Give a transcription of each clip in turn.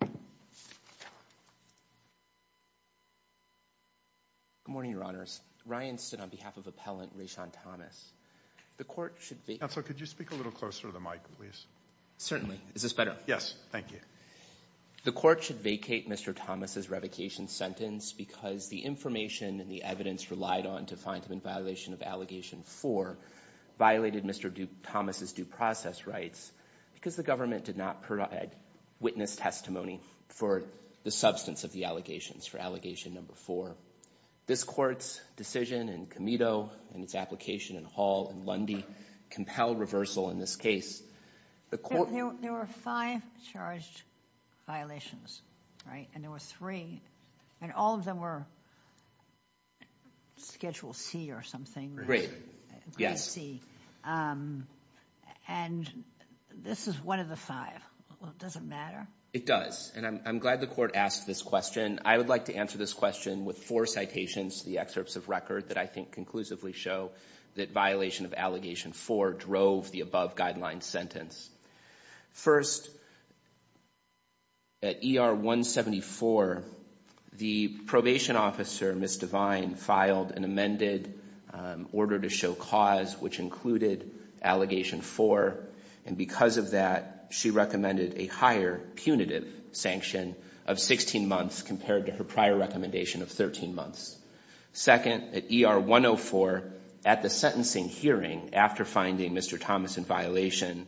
Good morning, Your Honors. Ryan stood on behalf of Appellant Rayshon Thomas. The court should vacate Mr. Thomas's revocation sentence because the information and the evidence relied on to find him in violation of Allegation 4 violated Mr. Thomas's due process rights because the government did not provide witness testimony for the substance of the allegations for Allegation No. 4. This court's decision in Comito and its application in Hall and Lundy compelled reversal in this case. There were five charged violations, right, and there were three, and all of them were Schedule C or something, and this is one of the five. Does it matter? It does, and I'm glad the court asked this question. I would like to answer this question with four citations, the excerpts of record that I think conclusively show that violation of Allegation 4 drove the above guideline sentence. First, at ER 174, the probation officer, Ms. Devine, filed an amended order to show cause which included Allegation 4, and because of that, she recommended a higher punitive sanction of 16 months compared to her prior recommendation of 13 months. Second, at ER 104, at the sentencing hearing, after finding Mr. Thomas in violation,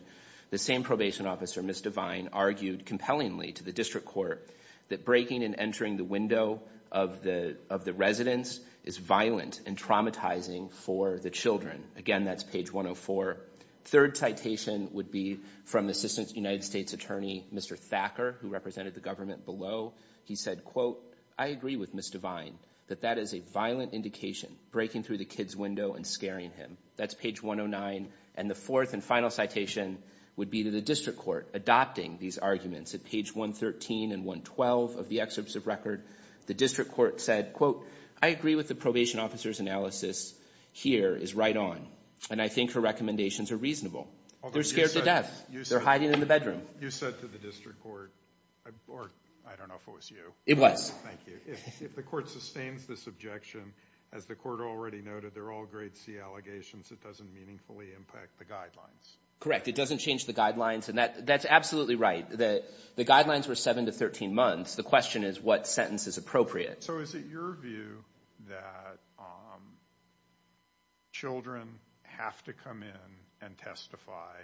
the same probation officer, Ms. Devine, argued compellingly to the district court that breaking and entering the window of the residence is violent and traumatizing for the children. Again, that's page 104. Third citation would be from Assistant United States Attorney, Mr. Thacker, who represented the government below. He said, quote, I agree with Ms. Devine that that is a violent indication, breaking through the kid's window and scaring him. That's page 109, and the fourth and final citation would be to the district court adopting these arguments. At page 113 and 112 of the excerpts of record, the district court said, quote, I agree with the probation officer's analysis here is right on, and I think her recommendations are reasonable. They're scared to death. They're hiding in the bedroom. You said to the district court, or I don't know if it was you. It was. Thank you. If the court sustains this objection, as the court already noted, they're all grade C allegations. It doesn't meaningfully impact the guidelines. Correct. It doesn't change the guidelines, and that's absolutely right. The guidelines were 7 to 13 months. The question is what sentence is appropriate. So is it your view that children have to come in and testify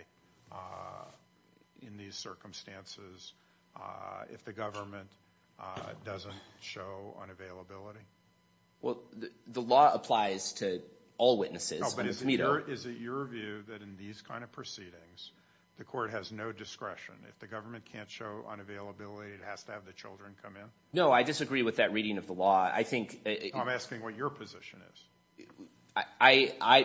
in these circumstances if the government doesn't show unavailability? Well, the law applies to all witnesses. Is it your view that in these kind of proceedings, the court has no discretion? If the government can't show unavailability, it has to have the children come in? No, I disagree with that reading of the law. I think. I'm asking what your position is.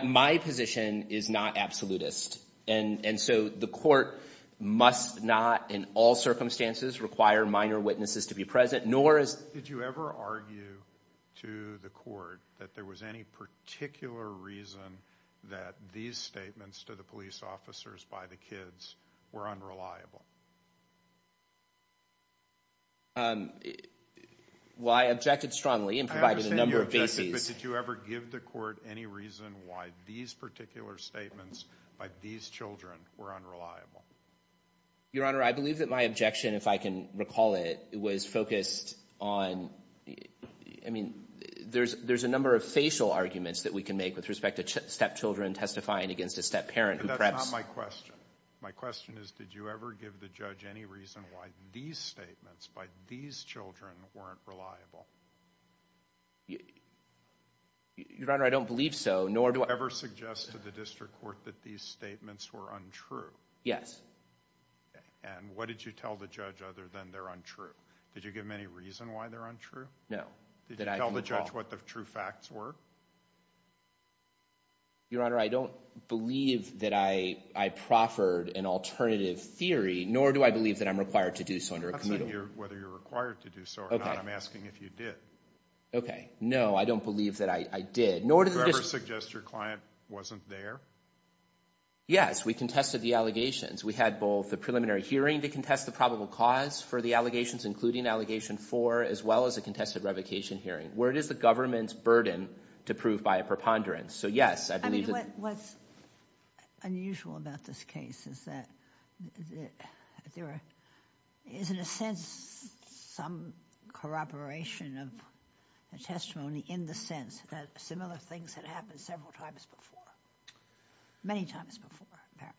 My position is not absolutist, and so the court must not in all circumstances require minor witnesses to be present, nor is. Did you ever argue to the court that there was any particular reason that these statements to the police officers by the kids were unreliable? Well, I objected strongly and provided a number of bases. I understand you objected, but did you ever give the court any reason why these particular statements by these children were unreliable? Your Honor, I believe that my objection, if I can recall it, was focused on, I mean, there's a number of facial arguments that we can make with respect to stepchildren testifying against a stepparent who perhaps. But that's not my question. My question is, did you ever give the judge any reason why these statements by these children weren't reliable? Your Honor, I don't believe so, nor do I. Did you ever suggest to the district court that these statements were untrue? Yes. And what did you tell the judge other than they're untrue? Did you give him any reason why they're untrue? No. Did you tell the judge what the true facts were? Your Honor, I don't believe that I proffered an alternative theory, nor do I believe that I'm required to do so under a commutal. I'm not saying whether you're required to do so or not. I'm asking if you did. Okay. No, I don't believe that I did. Did you ever suggest your client wasn't there? Yes. We contested the allegations. We had both the preliminary hearing to contest the probable cause for the allegations, including Allegation 4, as well as a contested revocation hearing. Where it is the government's burden to prove by a preponderance. So, yes, I believe that... I mean, what's unusual about this case is that there is, in a sense, some corroboration of a testimony in the sense that similar things had happened several times before. Many times before, apparently.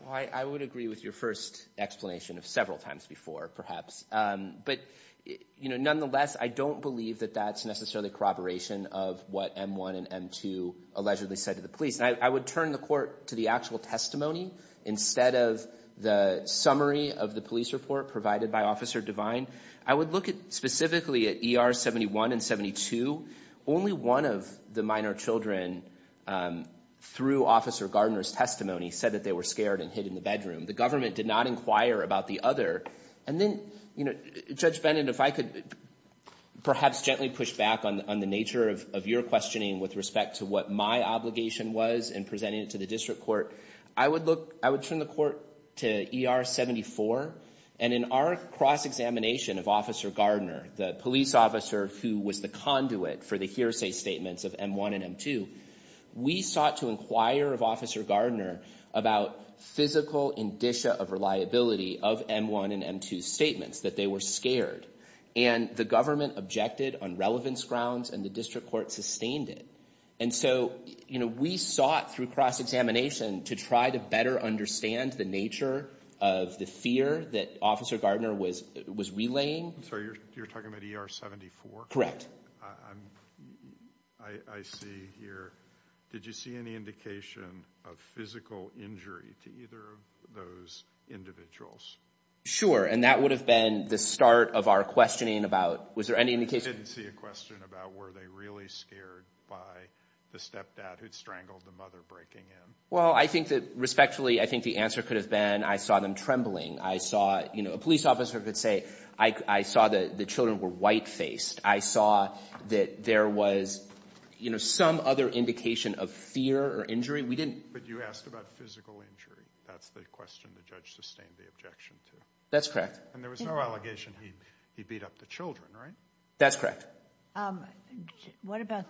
Well, I would agree with your first explanation of several times before, perhaps. But, you know, nonetheless, I don't believe that that's necessarily corroboration of what M-1 and M-2 allegedly said to the police. I would turn the court to the actual testimony instead of the summary of the police report provided by Officer Devine. I would look specifically at ER 71 and 72. Only one of the minor children, through Officer Gardner's testimony, said that they were scared and hid in the bedroom. The government did not inquire about the other. And then, you know, Judge Bennett, if I could perhaps gently push back on the nature of your questioning with respect to what my obligation was in presenting it to the district court, I would look... I would turn the court to ER 74. And in our cross-examination of Officer Gardner, the police officer who was the conduit for the hearsay statements of M-1 and M-2, we sought to inquire of Officer Gardner about physical indicia of reliability of M-1 and M-2 statements, that they were scared. And the government objected on relevance grounds, and the district court sustained it. And so, you know, we sought through cross-examination to try to better understand the nature of the fear that Officer Gardner was relaying. I'm sorry, you're talking about ER 74? Correct. I see here, did you see any indication of physical injury to either of those individuals? Sure. And that would have been the start of our questioning about, was there any indication... I didn't see a question about were they really scared by the stepdad who had strangled the mother breaking in. Well, I think that respectfully, I think the answer could have been, I saw them trembling. I saw, you know, a police officer could say, I saw the children were white-faced. I saw that there was, you know, some other indication of fear or injury. We didn't... But you asked about physical injury. That's the question the judge sustained the objection to. That's correct. And there was no allegation he beat up the children, right? That's correct. What about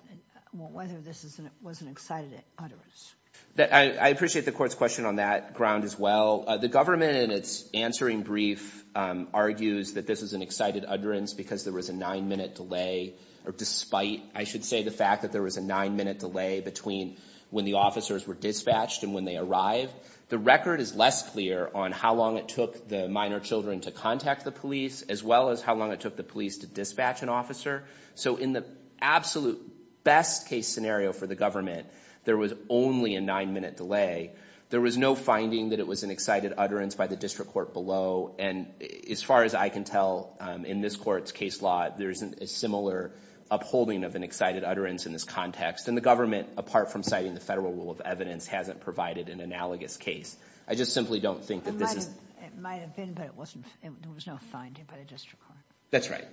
whether this was an excited utterance? I appreciate the court's question on that ground as well. The government, in its answering brief, argues that this was an excited utterance because there was a nine-minute delay, or despite, I should say, the fact that there was a nine-minute delay between when the officers were dispatched and when they arrived. The record is less clear on how long it took the minor children to contact the police, as well as how long it took the police to dispatch an officer. So in the absolute best case scenario for the government, there was only a nine-minute delay. There was no finding that it was an excited utterance by the district court below. And as far as I can tell, in this court's case law, there's a similar upholding of an excited utterance in this context. And the government, apart from citing the federal rule of evidence, hasn't provided an analogous case. I just simply don't think that this is... It might have been, but it wasn't. There was no finding by the district court. That's right.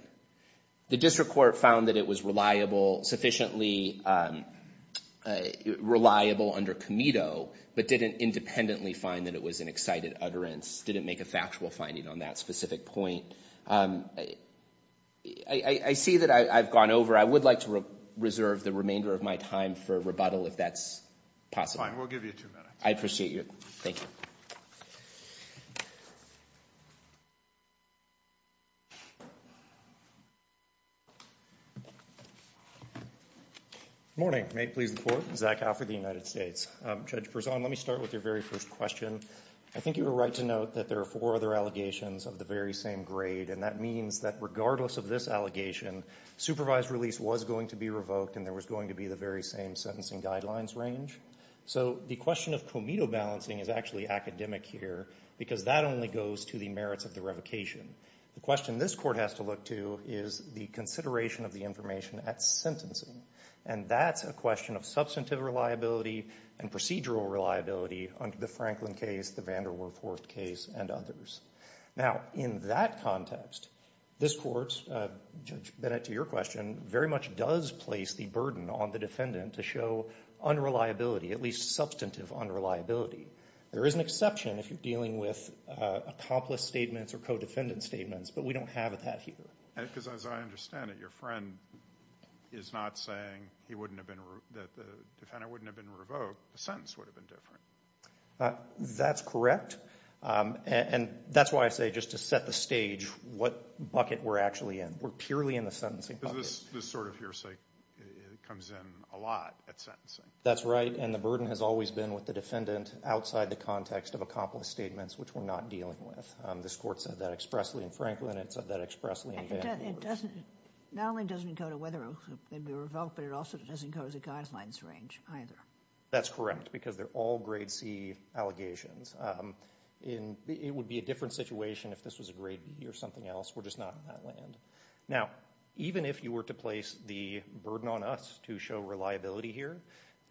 The district court found that it was reliable, sufficiently reliable under Comito, but didn't independently find that it was an excited utterance, didn't make a factual finding on that specific point. I see that I've gone over. I would like to reserve the remainder of my time for rebuttal if that's possible. Fine. We'll give you two minutes. I appreciate you. Thank you. Good morning. May it please the Court? Zach Alford, the United States. Judge Berzon, let me start with your very first question. I think you were right to note that there are four other allegations of the very same grade, and that means that regardless of this allegation, supervised release was going to be revoked and there was going to be the very same sentencing guidelines range. So the question of Comito balancing is actually academic here because that only goes to the merits of the revocation. The question this Court has to look to is the consideration of the information at sentencing, and that's a question of substantive reliability and procedural reliability under the Franklin case, the Vanderwerff-Horst case, and others. Now, in that context, this Court, Judge Bennett, to your question, very much does place the burden on the defendant to show unreliability, at least substantive unreliability. There is an exception if you're dealing with accomplice statements or co-defendant statements, but we don't have that here. Because as I understand it, your friend is not saying that the defendant wouldn't have been revoked. The sentence would have been different. That's correct, and that's why I say just to set the stage what bucket we're actually in. We're purely in the sentencing bucket. Because this sort of hearsay comes in a lot at sentencing. That's right, and the burden has always been with the defendant outside the context of accomplice statements, which we're not dealing with. This Court said that expressly in Franklin. It said that expressly in Vanderwerff-Horst. It not only doesn't go to whether they'd be revoked, but it also doesn't go to the guidelines range either. That's correct, because they're all grade C allegations. It would be a different situation if this was a grade B or something else. We're just not in that land. Now, even if you were to place the burden on us to show reliability here,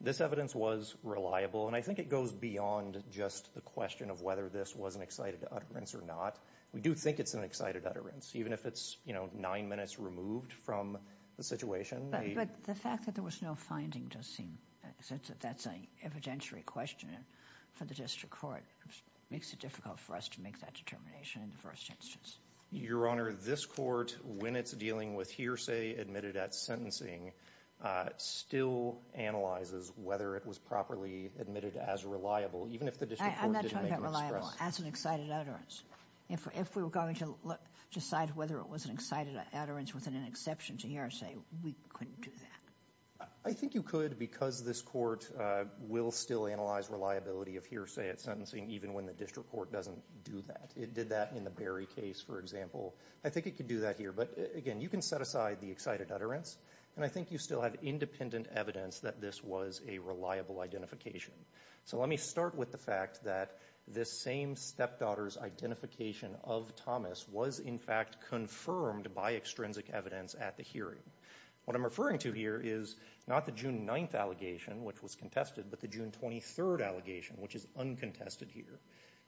this evidence was reliable, and I think it goes beyond just the question of whether this was an excited utterance or not. We do think it's an excited utterance, even if it's nine minutes removed from the situation. But the fact that there was no finding does seem, since that's an evidentiary question for the District Court, makes it difficult for us to make that determination in the first instance. Your Honor, this Court, when it's dealing with hearsay admitted at sentencing, still analyzes whether it was properly admitted as reliable, even if the District Court didn't make an expression. I'm not talking about reliable. That's an excited utterance. If we were going to decide whether it was an excited utterance with an exception to hearsay, we couldn't do that. I think you could, because this Court will still analyze reliability of hearsay at sentencing, even when the District Court doesn't do that. It did that in the Berry case, for example. I think it could do that here. But again, you can set aside the excited utterance, and I think you still have independent evidence that this was a reliable identification. Let me start with the fact that this same stepdaughter's identification of Thomas was in fact confirmed by extrinsic evidence at the hearing. What I'm referring to here is not the June 9th allegation, which was contested, but the June 23rd allegation, which is uncontested here.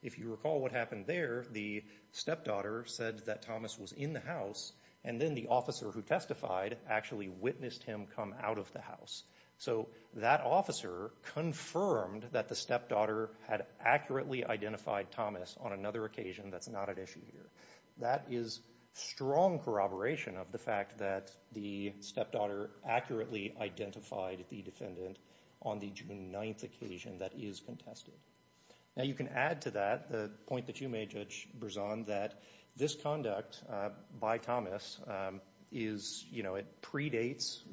If you recall what happened there, the stepdaughter said that Thomas was in the house, and then the officer who testified actually witnessed him come out of the house. So that officer confirmed that the stepdaughter had accurately identified Thomas on another occasion that's not at issue here. That is strong corroboration of the fact that the stepdaughter accurately identified the defendant on the June 9th occasion that is contested. Now you can add to that the point that you made, Judge Berzon, that this conduct by Thomas predates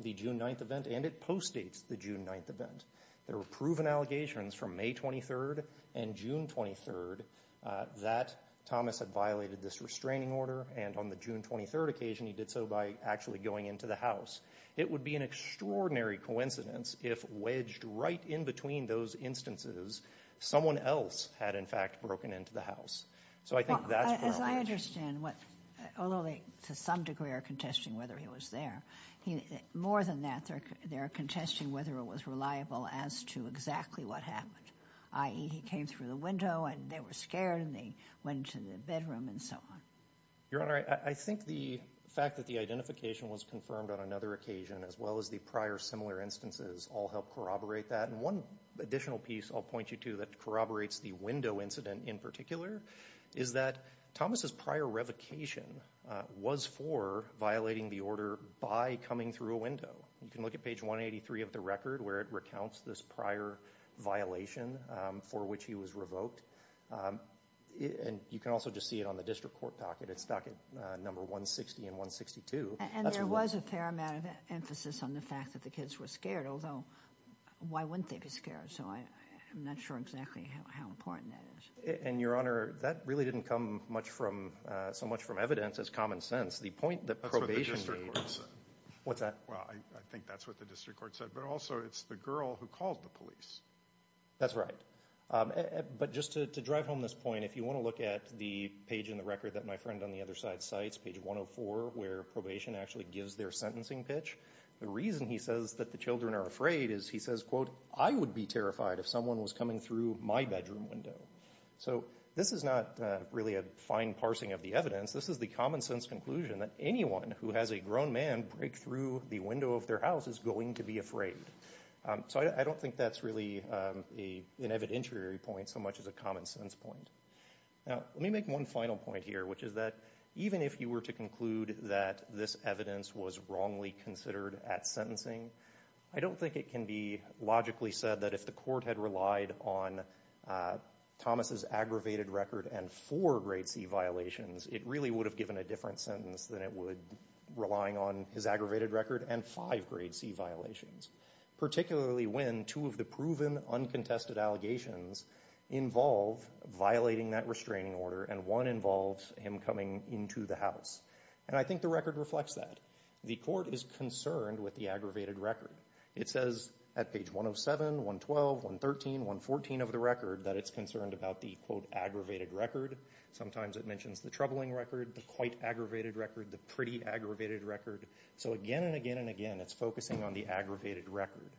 the June 9th event and it postdates the June 9th event. There were proven allegations from May 23rd and June 23rd that Thomas had violated this restraining order, and on the June 23rd occasion he did so by actually going into the house. It would be an extraordinary coincidence if wedged right in between those instances someone else had in fact broken into the house. So I think that's corroboration. As I understand, although they to some degree are contesting whether he was there, more than that they are contesting whether it was reliable as to exactly what happened, i.e. he came through the window and they were scared and they went into the bedroom and so on. Your Honor, I think the fact that the identification was confirmed on another occasion as well as the prior similar instances all help corroborate that. And one additional piece I'll point you to that corroborates the window incident in particular is that Thomas's prior revocation was for violating the order by coming through a window. You can look at page 183 of the record where it recounts this prior violation for which he was revoked. And you can also just see it on the district court docket. It's docket number 160 and 162. And there was a fair amount of emphasis on the fact that the kids were scared, although why wouldn't they be scared? So I'm not sure exactly how important that is. And, Your Honor, that really didn't come so much from evidence as common sense. That's what the district court said. What's that? Well, I think that's what the district court said. But also it's the girl who called the police. That's right. But just to drive home this point, if you want to look at the page in the record that my friend on the other side cites, page 104, where probation actually gives their sentencing pitch, the reason he says that the children are afraid is he says, quote, I would be terrified if someone was coming through my bedroom window. So this is not really a fine parsing of the evidence. This is the common sense conclusion that anyone who has a grown man break through the window of their house is going to be afraid. So I don't think that's really an evidentiary point so much as a common sense point. Now, let me make one final point here, which is that even if you were to conclude that this evidence was wrongly considered at sentencing, I don't think it can be logically said that if the court had relied on Thomas's aggravated record and four grade C violations, it really would have given a different sentence than it would relying on his aggravated record and five grade C violations, particularly when two of the proven uncontested allegations involve violating that restraining order, and one involves him coming into the house. And I think the record reflects that. The court is concerned with the aggravated record. It says at page 107, 112, 113, 114 of the record that it's concerned about the, quote, aggravated record. Sometimes it mentions the troubling record, the quite aggravated record, the pretty aggravated record. So again and again and again, it's focusing on the aggravated record.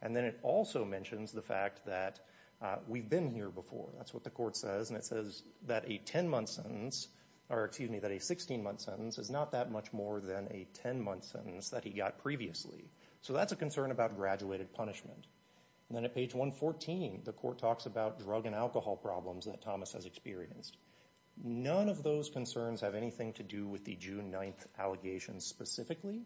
And then it also mentions the fact that we've been here before. That's what the court says, and it says that a 10-month sentence, or excuse me, that a 16-month sentence is not that much more than a 10-month sentence that he got previously. So that's a concern about graduated punishment. And then at page 114, the court talks about drug and alcohol problems that Thomas has experienced. None of those concerns have anything to do with the June 9th allegations specifically.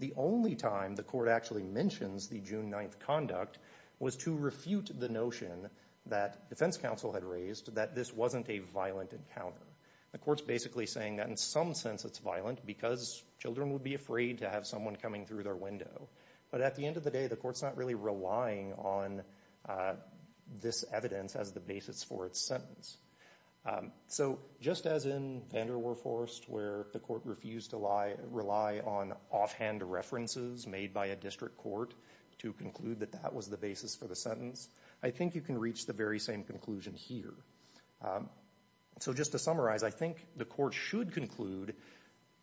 The only time the court actually mentions the June 9th conduct was to refute the notion that defense counsel had raised that this wasn't a violent encounter. The court's basically saying that in some sense it's violent because children would be afraid to have someone coming through their window. But at the end of the day, the court's not really relying on this evidence as the basis for its sentence. So just as in Vanderwerfhorst where the court refused to rely on offhand references made by a district court to conclude that that was the basis for the sentence, I think you can reach the very same conclusion here. So just to summarize, I think the court should conclude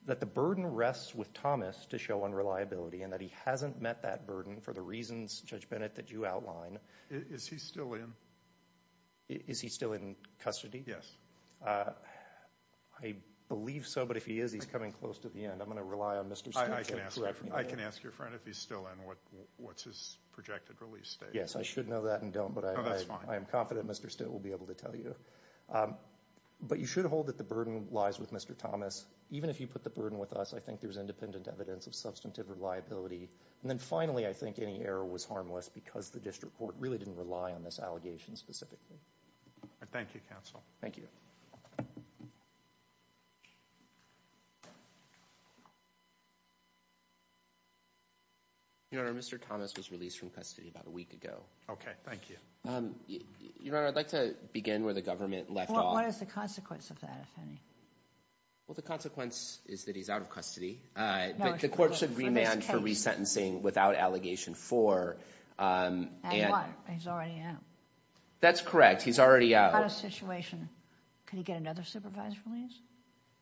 that the burden rests with Thomas to show unreliability and that he hasn't met that burden for the reasons, Judge Bennett, that you outline. Is he still in? Is he still in custody? I believe so, but if he is, he's coming close to the end. I'm going to rely on Mr. Stitt to correct me there. I can ask your friend if he's still in. What's his projected release date? Yes, I should know that and don't, but I am confident Mr. Stitt will be able to tell you. But you should hold that the burden lies with Mr. Thomas. Even if you put the burden with us, I think there's independent evidence of substantive reliability. And then finally, I think any error was harmless because the district court really didn't rely on this allegation specifically. Thank you, counsel. Thank you. Your Honor, Mr. Thomas was released from custody about a week ago. Okay, thank you. Your Honor, I'd like to begin where the government left off. What is the consequence of that, if any? Well, the consequence is that he's out of custody. But the court should remand for resentencing without allegation four. And what? He's already out. That's correct. He's already out. What about his situation? Can he get another supervised release?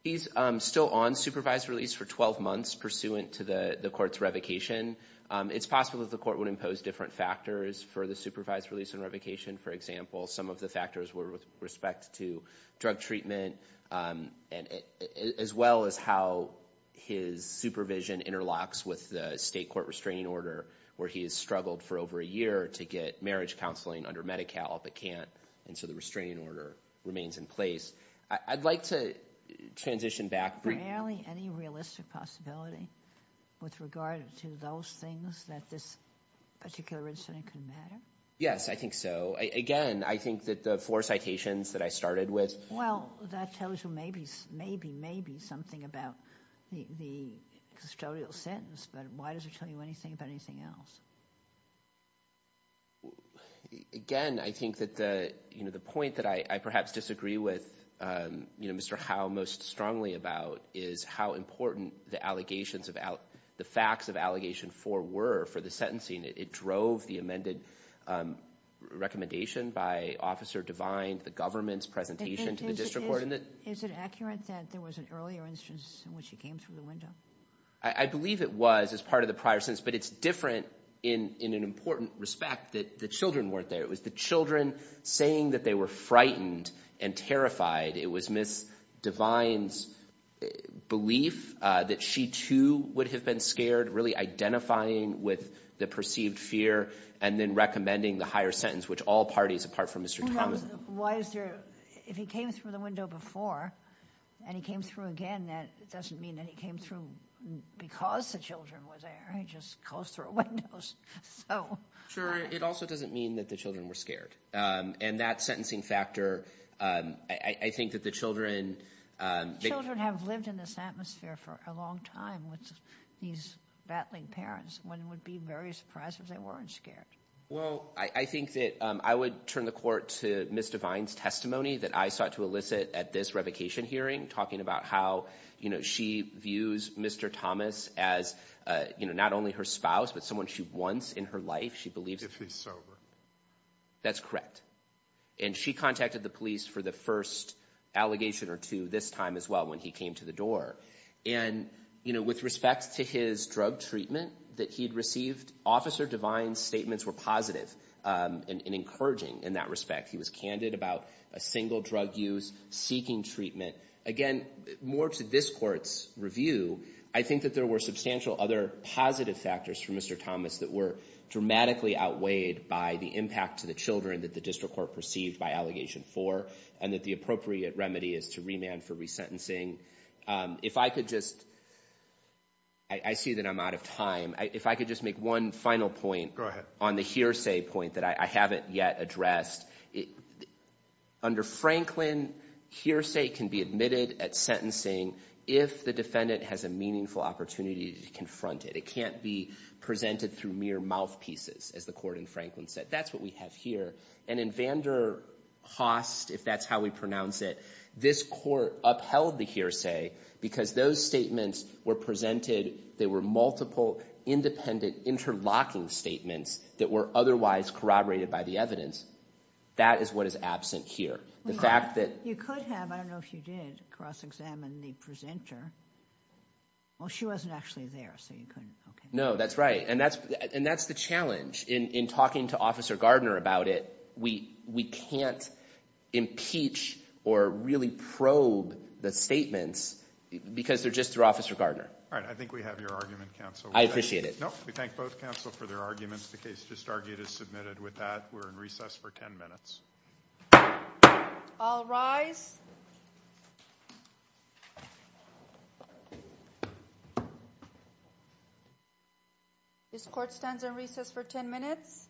He's still on supervised release for 12 months pursuant to the court's revocation. It's possible that the court would impose different factors for the supervised release and revocation. For example, some of the factors were with respect to drug treatment as well as how his supervision interlocks with the state court restraining order, where he has struggled for over a year to get marriage counseling under Medi-Cal but can't. And so the restraining order remains in place. I'd like to transition back. Is there any realistic possibility with regard to those things that this particular incident could matter? Yes, I think so. Again, I think that the four citations that I started with— Well, that tells you maybe, maybe, maybe something about the custodial sentence. But why does it tell you anything about anything else? Again, I think that the point that I perhaps disagree with Mr. Howe most strongly about is how important the allegations of— the facts of allegation four were for the sentencing. It drove the amended recommendation by Officer Devine to the government's presentation to the district court. Is it accurate that there was an earlier instance in which he came through the window? I believe it was as part of the prior sentence, but it's different in an important respect that the children weren't there. It was the children saying that they were frightened and terrified. It was Ms. Devine's belief that she, too, would have been scared, really identifying with the perceived fear, and then recommending the higher sentence, which all parties, apart from Mr. Thomas— Why is there—if he came through the window before and he came through again, that doesn't mean that he came through because the children were there. He just closed through a window. Sure. It also doesn't mean that the children were scared. And that sentencing factor, I think that the children— Children have lived in this atmosphere for a long time with these battling parents. One would be very surprised if they weren't scared. Well, I think that I would turn the Court to Ms. Devine's testimony that I sought to elicit at this revocation hearing, talking about how, you know, she views Mr. Thomas as, you know, not only her spouse, but someone she wants in her life. She believes— If he's sober. That's correct. And she contacted the police for the first allegation or two this time as well when he came to the door. And, you know, with respect to his drug treatment that he'd received, Officer Devine's statements were positive and encouraging in that respect. He was candid about a single drug use, seeking treatment. Again, more to this Court's review, I think that there were substantial other positive factors for Mr. Thomas that were dramatically outweighed by the impact to the children that the District Court perceived by Allegation 4 and that the appropriate remedy is to remand for resentencing. If I could just—I see that I'm out of time. If I could just make one final point on the hearsay point that I haven't yet addressed. Under Franklin, hearsay can be admitted at sentencing if the defendant has a meaningful opportunity to confront it. It can't be presented through mere mouthpieces, as the Court in Franklin said. That's what we have here. And in Vanderhost, if that's how we pronounce it, this Court upheld the hearsay because those statements were presented— they were multiple, independent, interlocking statements that were otherwise corroborated by the evidence. That is what is absent here. The fact that— You could have—I don't know if you did cross-examine the presenter. Well, she wasn't actually there, so you couldn't. No, that's right. And that's the challenge in talking to Officer Gardner about it. We can't impeach or really probe the statements because they're just through Officer Gardner. All right, I think we have your argument, counsel. I appreciate it. No, we thank both counsel for their arguments. The case just argued is submitted with that. We're in recess for 10 minutes. All rise. This Court stands in recess for 10 minutes.